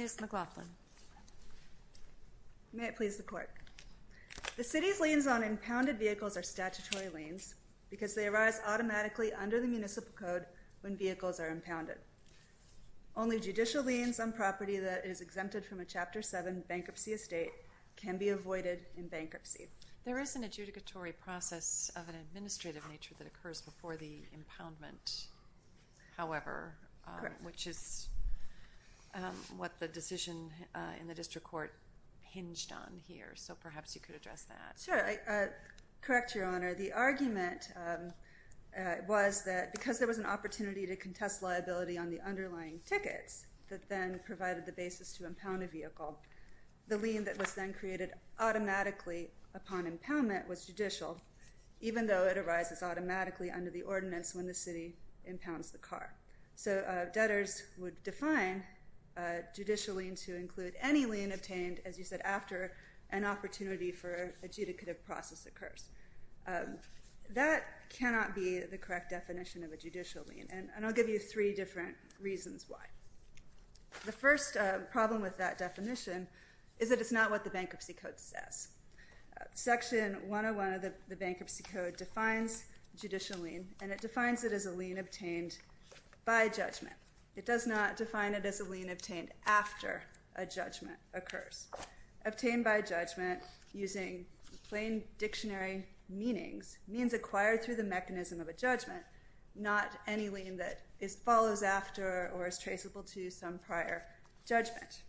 Ms. McLaughlin, may I please report? The city's liens on impounded vehicles are statutory liens because they arise automatically under the Municipal Code when vehicles are impounded. Only judicial liens on property that is exempted from a Chapter 7 bankruptcy estate can be avoided in bankruptcy. There is an adjudicatory process of an administrative nature that occurs before the impoundment, however, which is what the decision in the district court hinged on here, so perhaps you could address that. Sure, correct Your Honor, the argument was that because there was an opportunity to contest liability on the underlying tickets that then provided the basis to impound a vehicle, the lien that was then created automatically upon impoundment was judicial, even though it arises automatically under the ordinance when the city impounds the car. So debtors would define a judicial lien to include any lien obtained, as you said, after an opportunity for adjudicative process occurs. That cannot be the correct definition of a judicial lien, and I'll give you three different reasons why. The first problem with that definition is that it's not what the Bankruptcy Code says. Section 101 of the Bankruptcy Code defines judicial lien, and it defines it as a lien obtained by judgment. It does not define it as a lien obtained after a judgment occurs. Obtained by judgment, using plain dictionary meanings, means acquired through the mechanism of a judgment, not any lien that follows after or is traceable to some prior judgment.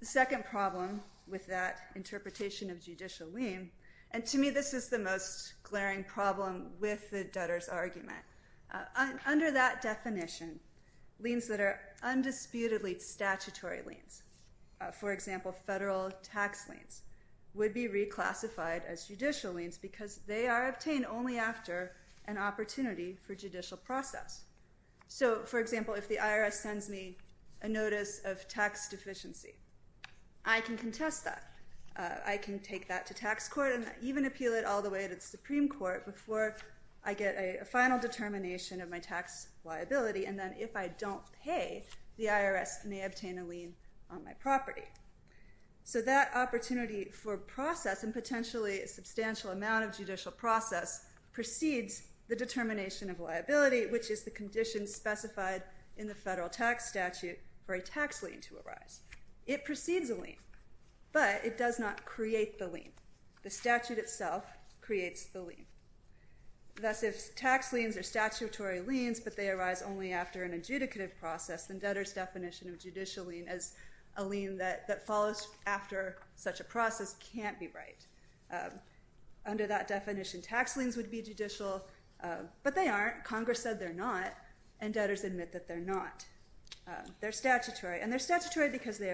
The second problem with that interpretation of judicial lien, and to me this is the most glaring problem with the debtors argument. Under that definition, liens that are undisputedly statutory liens, for example federal tax liens, would be reclassified as judicial liens because they are obtained only after an opportunity for judicial process. So for example, if the IRS sends me a notice of tax deficiency, I can contest that. I can take that to tax court and even appeal it all the way to Supreme Court before I get a final determination of my tax liability, and then if I don't pay, the IRS may obtain a lien on my property. So that opportunity for process, and potentially a substantial amount of judicial process, precedes the determination of liability, which is the condition specified in the federal tax statute for a tax lien to arise. It precedes a lien, but it does not create the lien. Thus, if tax liens are statutory liens, but they arise only after an adjudicative process, then debtors definition of judicial lien as a lien that follows after such a process can't be right. Under that definition, tax liens would be judicial, but they aren't. Congress said they're not, and debtors admit that they're not. They're statutory, and they're statutory because they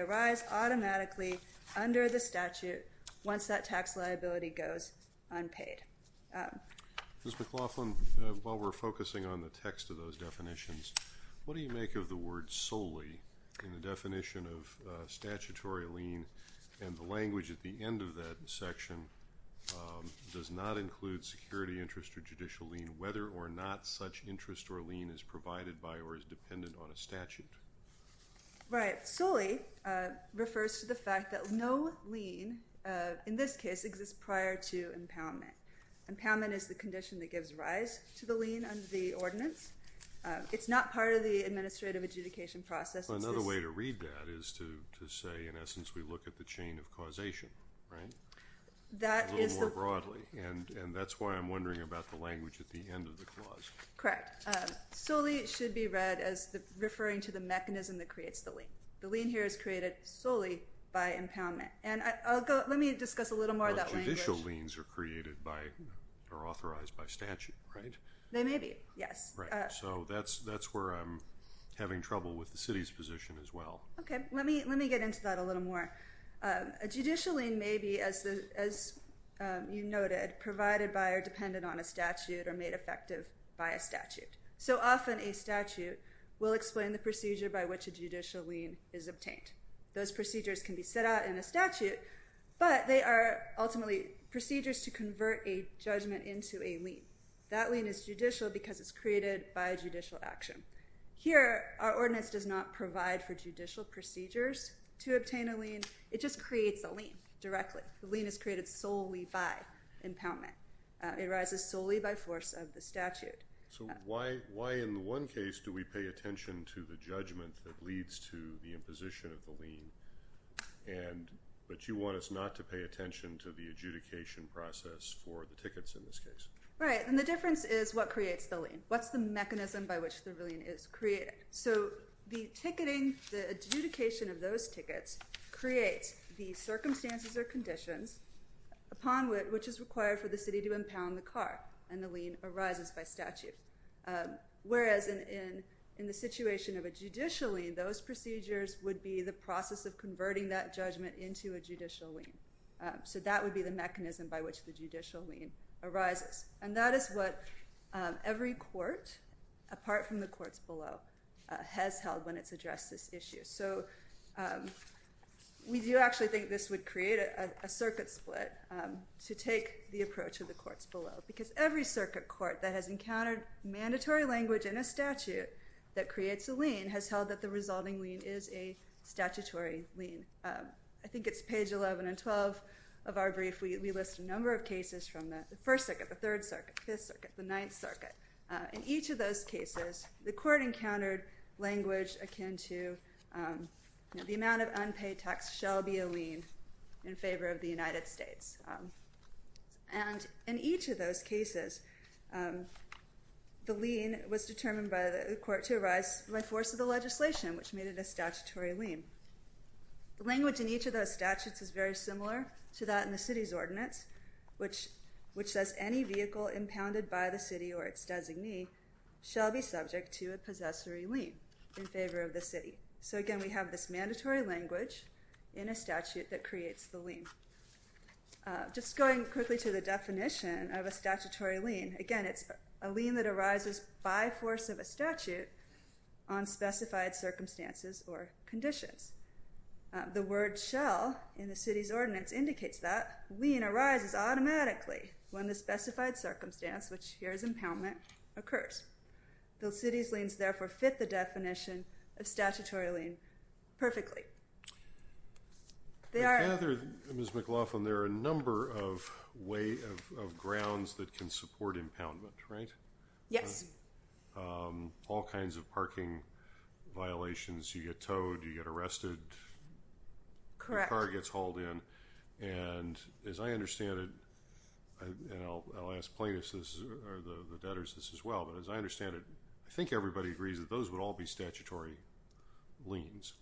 Ms. McLaughlin, while we're focusing on the text of those definitions, what do you make of the word solely in the definition of statutory lien, and the language at the end of that section does not include security interest or judicial lien, whether or not such interest or lien is provided by or is dependent on a statute? Right. Solely refers to the fact that no lien, in this case, exists prior to impoundment. Impoundment is the condition that gives rise to the lien under the ordinance. It's not part of the administrative adjudication process. Another way to read that is to say, in essence, we look at the chain of causation, right? A little more broadly, and that's why I'm wondering about the language at the end of the clause. Correct. Solely should be read as referring to the mechanism that creates the lien. The lien here is Well, judicial liens are created by or authorized by statute, right? They may be. Yes. So that's where I'm having trouble with the city's position as well. Okay, let me let me get into that a little more. A judicial lien may be, as you noted, provided by or dependent on a statute or made effective by a statute. So often a statute will explain the procedure by which a judicial lien is obtained. Those procedures can be set out in a statute, but they are ultimately procedures to convert a judgment into a lien. That lien is judicial because it's created by judicial action. Here, our ordinance does not provide for judicial procedures to obtain a lien. It just creates a lien directly. The lien is created solely by impoundment. It arises solely by force of the statute. So why in the one case do we pay attention to the judgment that leads to the imposition of the lien, but you want us not to pay attention to the adjudication process for the tickets in this case? Right, and the difference is what creates the lien. What's the mechanism by which the lien is created? So the ticketing, the adjudication of those tickets, creates the circumstances or conditions upon which is required for the city to impound the car, and the lien arises by statute. Whereas in the situation of a judicial lien, those procedures would be the process of converting that judgment into a judicial lien. So that would be the mechanism by which the judicial lien arises, and that is what every court, apart from the courts below, has held when it's addressed this issue. So we do actually think this would create a circuit split to take the approach of the courts below, because every circuit court that has encountered mandatory language in a statute that creates a lien has held that the resulting lien is a statutory lien. I think it's page 11 and 12 of our brief, we list a number of cases from the First Circuit, the Third Circuit, Fifth Circuit, the Ninth Circuit. In each of those cases, the court encountered language akin to the amount of unpaid tax shall be a lien in favor of the city. And in each of those cases, the lien was determined by the court to arise by force of the legislation, which made it a statutory lien. The language in each of those statutes is very similar to that in the city's ordinance, which says any vehicle impounded by the city or its designee shall be subject to a possessory lien in favor of the city. So again, we have this mandatory language in a statute that creates the lien. Just going quickly to the definition of a statutory lien, again, it's a lien that arises by force of a statute on specified circumstances or conditions. The word shall in the city's ordinance indicates that lien arises automatically when the specified circumstance, which here is impoundment, occurs. The city's liens therefore fit the definition of a statutory lien. Ms. McLaughlin, there are a number of grounds that can support impoundment, right? Yes. All kinds of parking violations. You get towed, you get arrested, the car gets hauled in, and as I understand it, and I'll ask plaintiffs or the debtors this as well, but as I understand it, I think everybody agrees that those would all be statutory liens.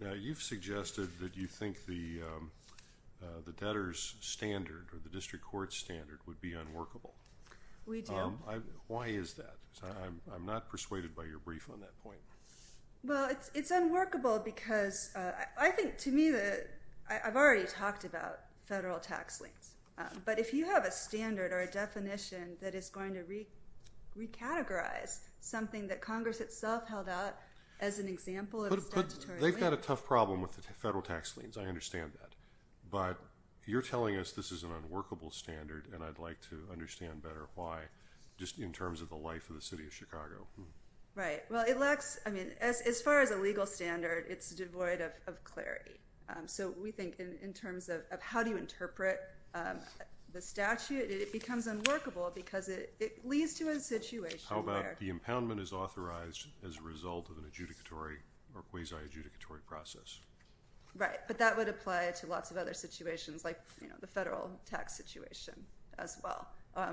Now you've suggested that you think the debtors standard or the district court standard would be unworkable. We do. Why is that? I'm not persuaded by your brief on that point. Well, it's unworkable because I think to me, I've already talked about federal tax liens, but if you have a something that Congress itself held out as an example, they've got a tough problem with the federal tax liens. I understand that, but you're telling us this is an unworkable standard and I'd like to understand better why, just in terms of the life of the city of Chicago. Right. Well, it lacks, I mean, as far as a legal standard, it's devoid of clarity. So we think in terms of how do you interpret the statute, it becomes unworkable because it leads to a situation where... How about the impoundment is authorized as a result of an adjudicatory or quasi-adjudicatory process. Right, but that would apply to lots of other situations like, you know, the federal tax situation as well,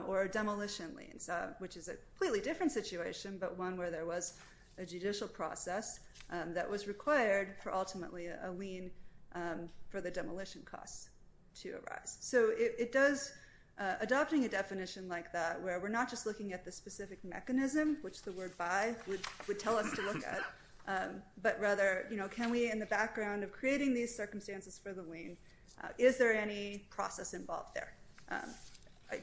or demolition liens, which is a completely different situation, but one where there was a judicial process that was required for ultimately a lien for the demolition costs to arise. So it does, adopting a specific mechanism, which the word by would tell us to look at, but rather, you know, can we, in the background of creating these circumstances for the lien, is there any process involved there?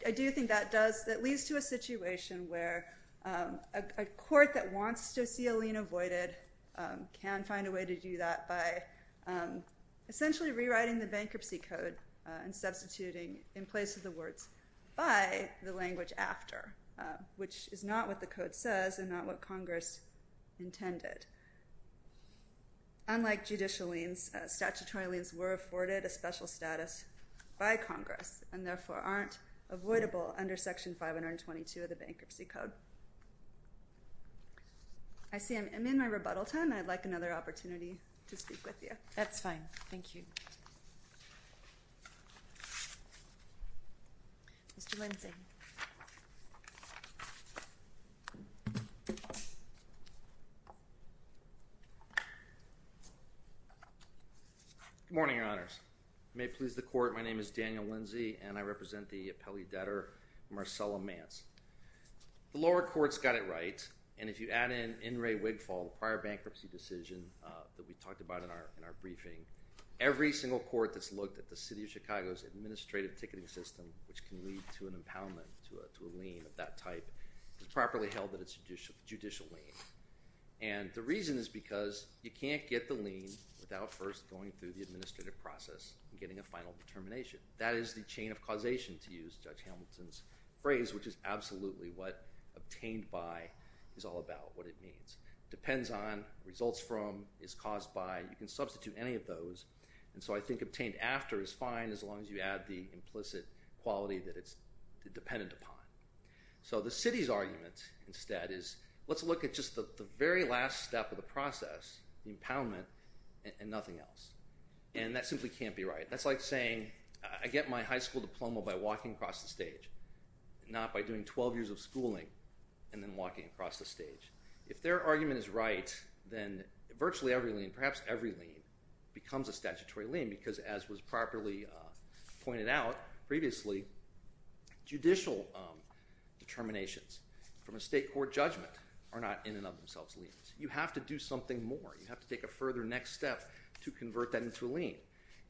I do think that does, that leads to a situation where a court that wants to see a lien avoided can find a way to do that by essentially rewriting the bankruptcy code and substituting in place of the words by the language after, which is not what the code says and not what Congress intended. Unlike judicial liens, statutory liens were afforded a special status by Congress and therefore aren't avoidable under Section 522 of the Bankruptcy Code. I see I'm in my rebuttal time. I'd like another opportunity to speak with you. That's fine, thank you. Good morning, Your Honors. May it please the Court, my name is Daniel Lindsey and I represent the appellee debtor Marcella Mance. The lower courts got it right, and if you add in In re Wigfall, the prior bankruptcy decision that we talked about in our briefing, every single court that's looked at the City of Chicago's administrative ticketing system, which can lead to an impoundment to a lien of that type, has properly held that it's a judicial lien. And the reason is because you can't get the lien without first going through the administrative process and getting a final determination. That is the chain of causation, to use Judge Hamilton's phrase, which is absolutely what obtained by is all about, what it means. Depends on, results from, is caused by, you can substitute any of those, and so I think obtained after is fine as long as you add the implicit quality that it's dependent upon. So the City's argument instead is, let's look at just the very last step of the process, the impoundment, and nothing else. And that simply can't be right. That's like saying, I get my high school diploma by walking across the stage, not by doing 12 years of schooling and then walking across the stage. If their argument is right, then virtually every lien, perhaps every lien, becomes a statutory lien. Because as was properly pointed out previously, judicial determinations from a state court judgment are not in and of themselves liens. You have to do something more. You have to take a further next step to convert that into a lien.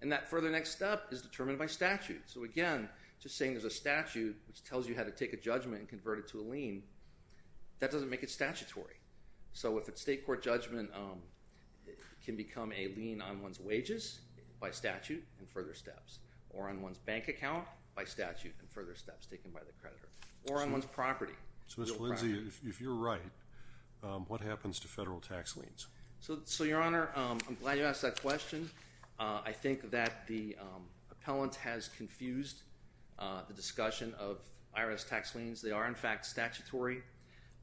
And that further next step is determined by statute. So again, just saying there's a statute which tells you how to take a judgment and convert it to a lien, that doesn't make it statutory. So if a state court judgment can become a lien on one's wages by statute and further steps, or on one's bank account by statute and further steps taken by the creditor, or on one's property. So Ms. Valenzi, if you're right, what happens to federal tax liens? So your Honor, I'm glad you asked that question. I think that the appellant has confused the discussion of IRS tax liens. They are in fact statutory.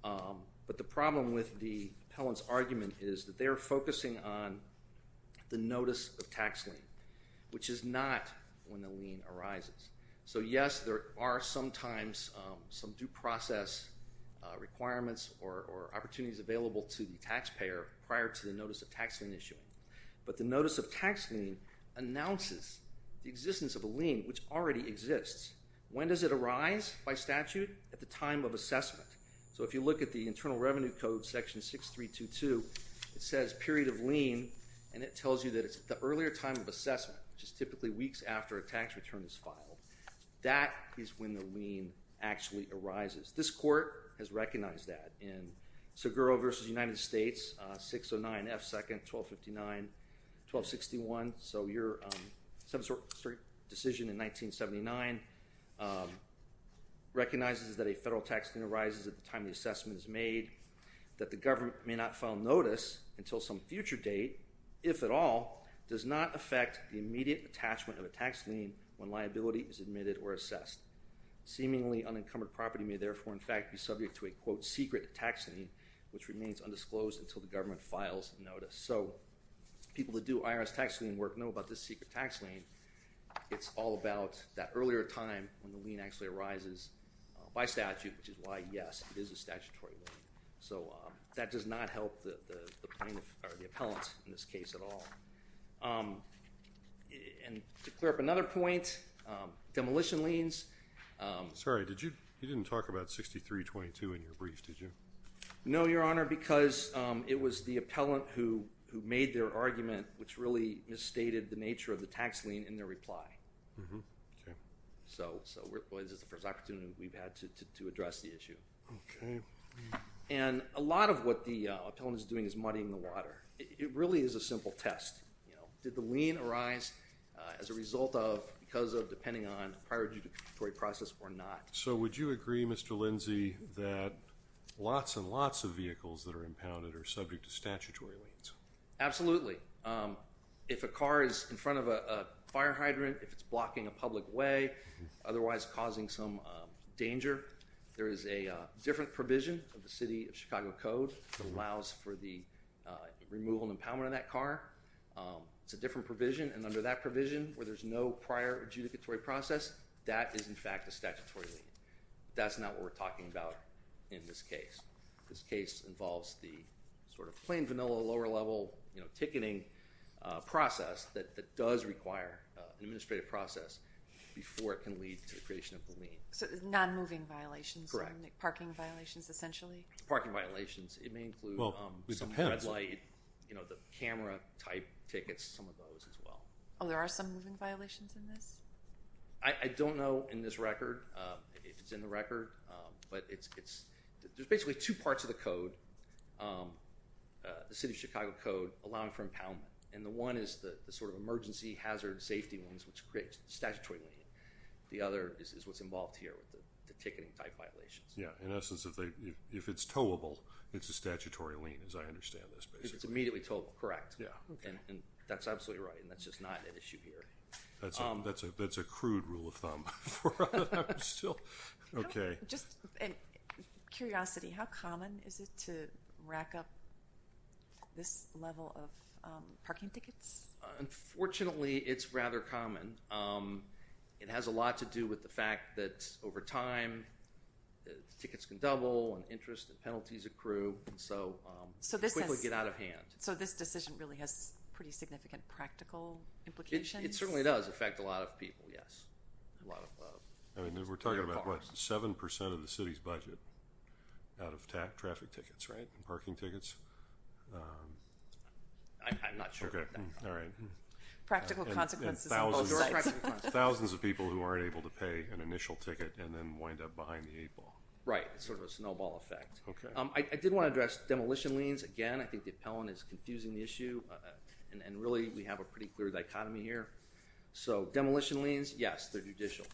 But the problem with the appellant's argument is that they are focusing on the notice of tax lien, which is not when the lien arises. So yes, there are sometimes some due process requirements or opportunities available to the taxpayer prior to the notice of tax lien issuing. But the notice of tax lien announces the existence of a lien, which already exists. When does it arise by statute? At the time of assessment. So if you look at the Internal Revenue Code section 6322, it says period of lien, and it tells you that it's the earlier time of assessment, which is typically weeks after a tax return is filed. That is when the lien actually arises. This court has recognized that in Seguro versus United States in 1979, 1261, so your decision in 1979 recognizes that a federal tax lien arises at the time the assessment is made, that the government may not file notice until some future date, if at all, does not affect the immediate attachment of a tax lien when liability is admitted or assessed. Seemingly unencumbered property may therefore in fact be subject to a quote secret tax lien, which people that do IRS tax lien work know about this secret tax lien. It's all about that earlier time when the lien actually arises by statute, which is why, yes, it is a statutory lien. So that does not help the plaintiff or the appellant in this case at all. And to clear up another point, demolition liens... Sorry, you didn't talk about 6322 in your brief, did you? No, Your Honor, because it was the appellant who made their argument, which really misstated the nature of the tax lien in their reply. So this is the first opportunity we've had to address the issue. And a lot of what the appellant is doing is muddying the water. It really is a simple test, you know, did the lien arise as a result of, because of, depending on prior to the process or not. So would you agree, Mr. Lindsay, that lots and lots of Absolutely. If a car is in front of a fire hydrant, if it's blocking a public way, otherwise causing some danger, there is a different provision of the City of Chicago Code that allows for the removal and impoundment of that car. It's a different provision, and under that provision, where there's no prior adjudicatory process, that is in fact a statutory lien. That's not what we're talking about. That's a lower level, you know, ticketing process that does require an administrative process before it can lead to the creation of the lien. So non-moving violations, parking violations essentially? Parking violations. It may include some red light, you know, the camera type tickets, some of those as well. Oh, there are some moving violations in this? I don't know in this record, if it's in the record, but it's, there's basically two parts of the code. The City of Chicago Code allowing for impoundment, and the one is the sort of emergency hazard safety ones, which creates the statutory lien. The other is what's involved here with the ticketing type violations. Yeah, in essence, if it's towable, it's a statutory lien, as I understand this. It's immediately towable, correct. Yeah, okay. And that's absolutely right, and that's just not an issue here. That's a crude rule of thumb. Okay. Just a curiosity, how common is it to rack up this level of parking tickets? Unfortunately, it's rather common. It has a lot to do with the fact that over time, tickets can double and interest and penalties accrue, so they quickly get out of hand. So this decision really has pretty significant practical implications? It certainly does affect a lot of people, yes. I mean, we're talking about what, seven percent of the city's out of traffic tickets, right? Parking tickets. I'm not sure. Okay, all right. Practical consequences. Thousands of people who aren't able to pay an initial ticket and then wind up behind the eight ball. Right. It's sort of a snowball effect. Okay. I did want to address demolition liens. Again, I think the appellant is confusing the issue, and really we have a pretty clear dichotomy here. So demolition liens, yes, they're judicial.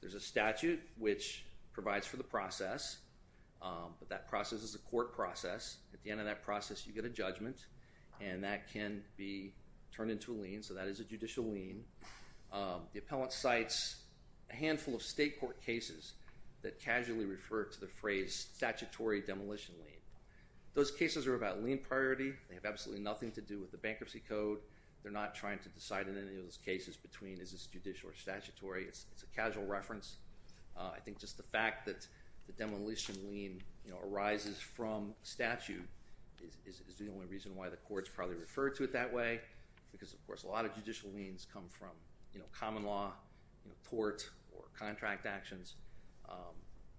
There's a statute which provides for the process, but that process is a court process. At the end of that process, you get a judgment, and that can be turned into a lien. So that is a judicial lien. The appellant cites a handful of state court cases that casually refer to the phrase statutory demolition lien. Those cases are about lien priority. They have absolutely nothing to do with the bankruptcy code. They're not trying to decide in any of those cases between is this judicial or not. The fact that the demolition lien arises from statute is the only reason why the courts probably refer to it that way, because of course a lot of judicial liens come from common law, tort, or contract actions.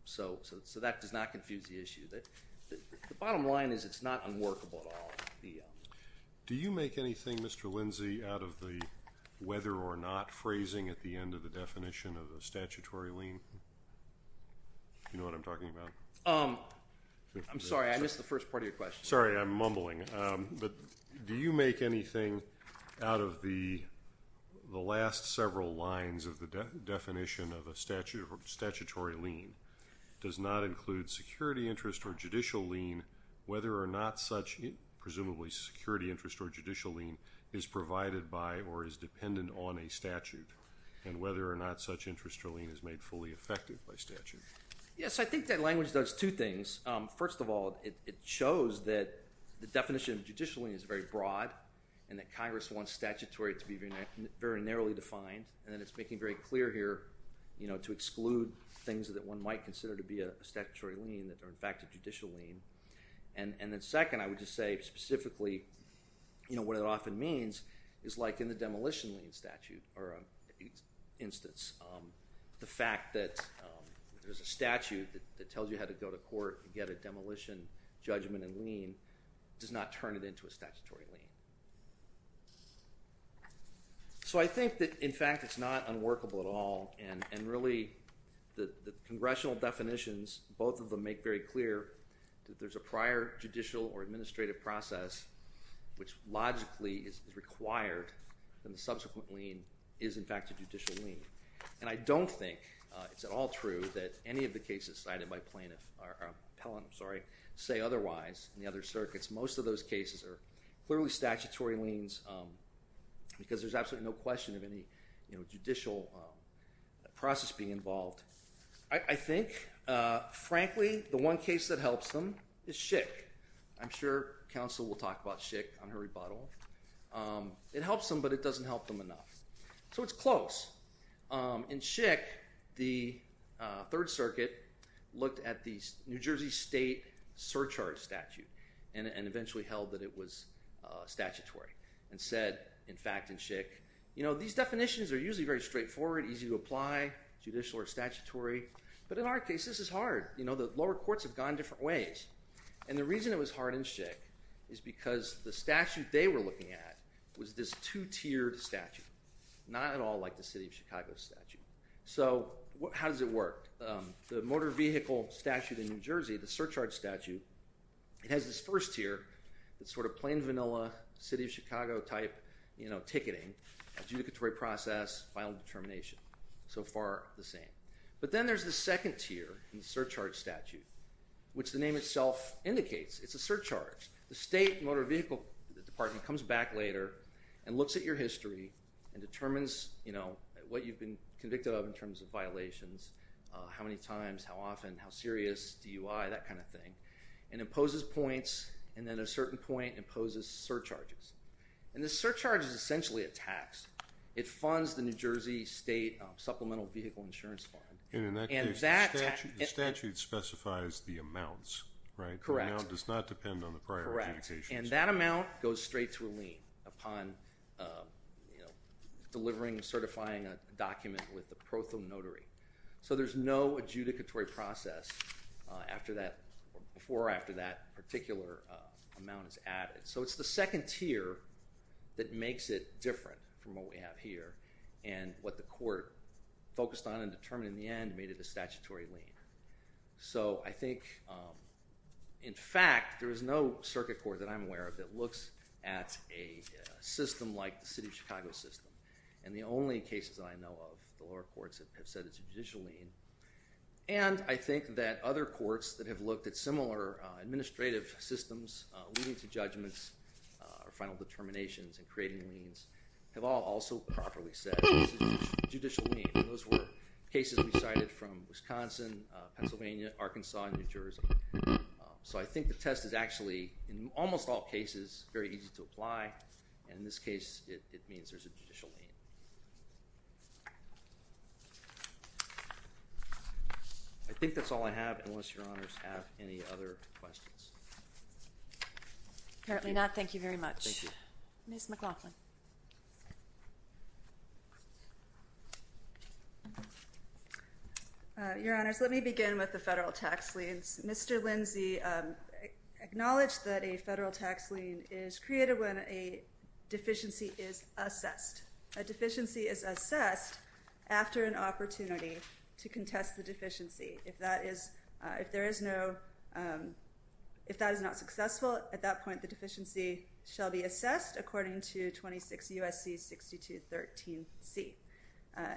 So that does not confuse the issue. The bottom line is it's not unworkable at all. Do you make anything, Mr. Lindsay, out of the whether or not phrasing at the end of the definition of a statutory lien? You know what I'm talking about? I'm sorry, I missed the first part of your question. Sorry, I'm mumbling, but do you make anything out of the last several lines of the definition of a statutory lien? Does not include security interest or judicial lien, whether or not such, presumably security interest or judicial lien, is provided by or is made fully effective by statute? Yes, I think that language does two things. First of all, it shows that the definition of judicial lien is very broad and that Congress wants statutory to be very narrowly defined, and then it's making very clear here to exclude things that one might consider to be a statutory lien that are in fact a judicial lien. And then second, I would just say specifically what it often means is like in a demolition lien statute or an instance, the fact that there's a statute that tells you how to go to court and get a demolition judgment and lien does not turn it into a statutory lien. So I think that in fact it's not unworkable at all and really the congressional definitions, both of them make very clear that there's a prior judicial or administrative process which logically is required and the subsequent lien is in fact a judicial lien. And I don't think it's at all true that any of the cases cited by plaintiff, or appellant, I'm sorry, say otherwise in the other circuits. Most of those cases are clearly statutory liens because there's absolutely no question of any, you know, judicial process being involved. I think, frankly, the one case that helps them is I'm sure counsel will talk about Schick on her rebuttal. It helps them but it doesn't help them enough. So it's close. In Schick, the Third Circuit looked at the New Jersey state surcharge statute and eventually held that it was statutory and said, in fact, in Schick, you know, these definitions are usually very straightforward, easy to apply, judicial or statutory, but in our case this is hard. You know, the lower courts have gone different ways and the reason it was hard in Schick is because the statute they were looking at was this two-tiered statute, not at all like the City of Chicago statute. So how does it work? The motor vehicle statute in New Jersey, the surcharge statute, it has this first tier that's sort of plain vanilla City of Chicago type, you know, ticketing, adjudicatory process, final determination. So far the same. But then there's the second tier, the surcharge statute, which the name itself indicates. It's a surcharge. The state motor vehicle department comes back later and looks at your history and determines, you know, what you've been convicted of in terms of violations, how many times, how often, how serious, DUI, that kind of thing, and imposes points and then a certain point imposes surcharges. And the surcharge is essentially a tax. It funds the New York State Supplemental Vehicle Insurance Fund. And in that case, the statute specifies the amounts, right? Correct. The amount does not depend on the prior adjudications. Correct. And that amount goes straight to a lien upon, you know, delivering and certifying a document with the pro thumb notary. So there's no adjudicatory process after that, before or after that particular amount is added. So it's the second tier that makes it different from what we have here and what the court focused on and determined in the end made it a statutory lien. So I think, in fact, there is no circuit court that I'm aware of that looks at a system like the City of Chicago system. And the only cases that I know of, the lower courts have said it's a judicial lien. And I think that other courts that have looked at similar administrative systems, leading to judgments or final determinations and creating liens, have all also properly said it's a judicial lien. And those were cases we cited from Wisconsin, Pennsylvania, Arkansas, and New Jersey. So I think the test is actually, in almost all cases, very easy to apply. And in this case, it means there's a judicial lien. I think that's all I have, unless Your Honors have any other questions. Apparently not. Thank you very much. Ms. McLaughlin. Your Honors, let me begin with the federal tax liens. Mr. Lindsay acknowledged that a federal tax lien is created when a deficiency is assessed. A deficiency is assessed after an opportunity to contest the deficiency. If that is not successful at that point, the deficiency shall be assessed according to 26 U.S.C. 6213c.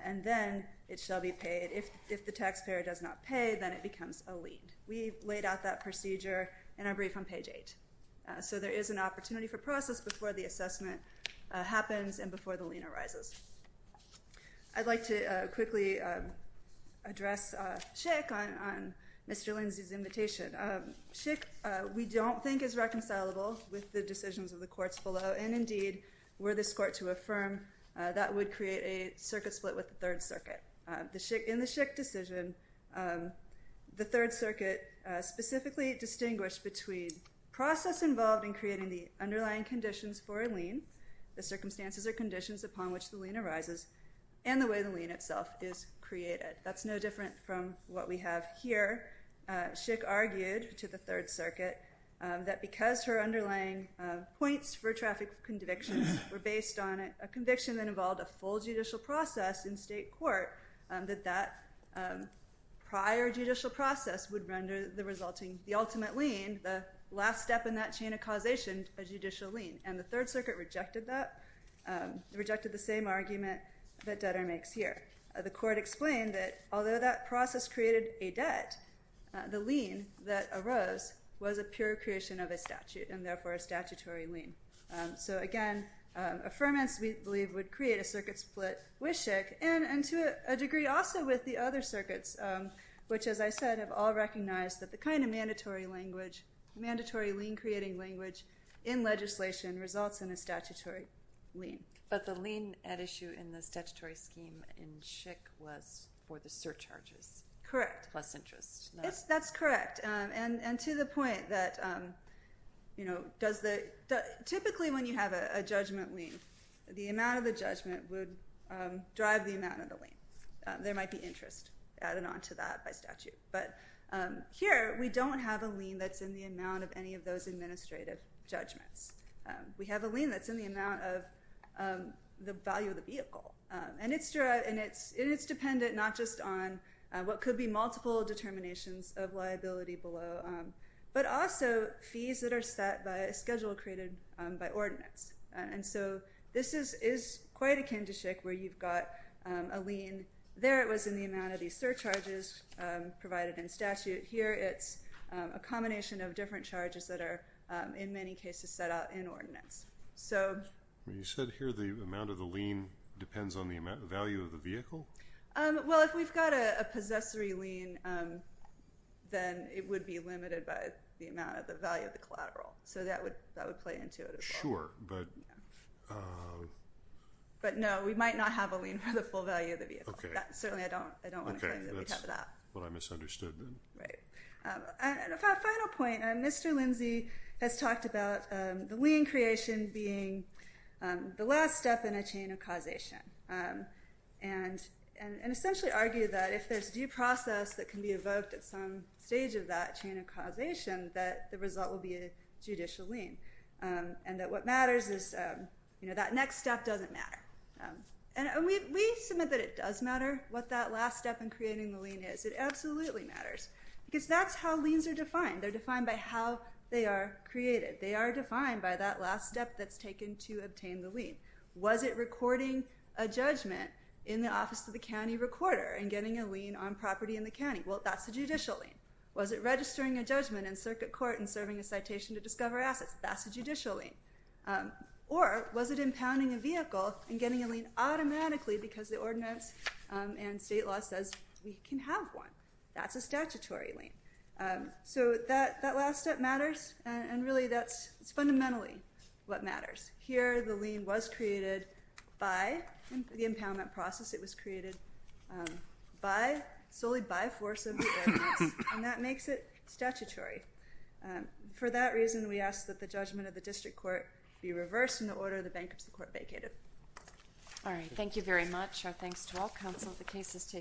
And then it shall be paid. If the taxpayer does not pay, then it becomes a lien. We laid out that procedure in our brief on page 8. So there is an opportunity for process before the assessment happens and before the lien arises. I'd like to quickly address Schick on Mr. Lindsay's invitation. Schick, we don't think, is reconcilable with the decisions of the courts below. And indeed, were this court to affirm, that would create a circuit split with the Third Circuit. In the Schick decision, the Third Circuit specifically distinguished between process involved in creating the underlying conditions for a lien, the circumstances or conditions upon which the lien arises, and the way the lien itself is created. That's no different from what we have here. Schick argued to the Third Circuit that because her underlying points for traffic convictions were based on a conviction that involved a full judicial process in state court, that that prior judicial process would render the resulting, the ultimate lien, the last step in that chain of causation, a judicial lien. And the Third Circuit rejected that, rejected the same argument that Dutter makes here. The court explained that although that process created a debt, the lien that arose was a pure creation of a statute, and therefore a statutory lien. So again, affirmance, we believe, would create a circuit split with Schick, and to a degree also with the other circuits, which, as I said, have all recognized that the kind of mandatory language, mandatory lien-creating language in legislation results in a statutory lien. But the lien at issue in the statutory scheme in Schick was for the surcharges. Correct. Plus interest. That's correct, and to the point that typically when you have a judgment lien, the amount of the judgment would drive the amount of the lien. There might be interest added on to that by statute. But here we don't have a lien that's in the amount of any of those administrative judgments. We have a lien that's in the amount of the value of the vehicle. And it's dependent not just on what could be multiple determinations of liability below, but also fees that are set by a schedule created by ordinance. And so this is quite akin to Schick, where you've got a lien. There it was in the amount of these surcharges provided in statute. Here it's a combination of different charges that are in many cases set out in ordinance. You said here the amount of the lien depends on the value of the vehicle? Well, if we've got a possessory lien, then it would be limited by the amount of the value of the collateral. So that would play into it as well. Sure. But no, we might not have a lien for the full value of the vehicle. Certainly I don't want to claim that we have that. That's what I misunderstood then. Right. And a final point. Mr. Lindsey has talked about the lien creation being the last step in a chain of causation and essentially argued that if there's due process that can be evoked at some stage of that chain of causation, that the result will be a judicial lien and that what matters is that next step doesn't matter. And we submit that it does matter what that last step in creating the lien is. It absolutely matters because that's how liens are defined. They're defined by how they are created. They are defined by that last step that's taken to obtain the lien. Was it recording a judgment in the office of the county recorder and getting a lien on property in the county? Well, that's a judicial lien. Was it registering a judgment in circuit court and serving a citation to discover assets? That's a judicial lien. Or was it impounding a vehicle and getting a lien automatically because the ordinance and state law says we can have one? That's a statutory lien. So that last step matters, and really that's fundamentally what matters. Here the lien was created by the impoundment process. It was created solely by force of the ordinance, and that makes it statutory. For that reason, we ask that the judgment of the district court be reversed in the order the bankruptcy court vacated. All right. Thank you very much. Our thanks to all counsel.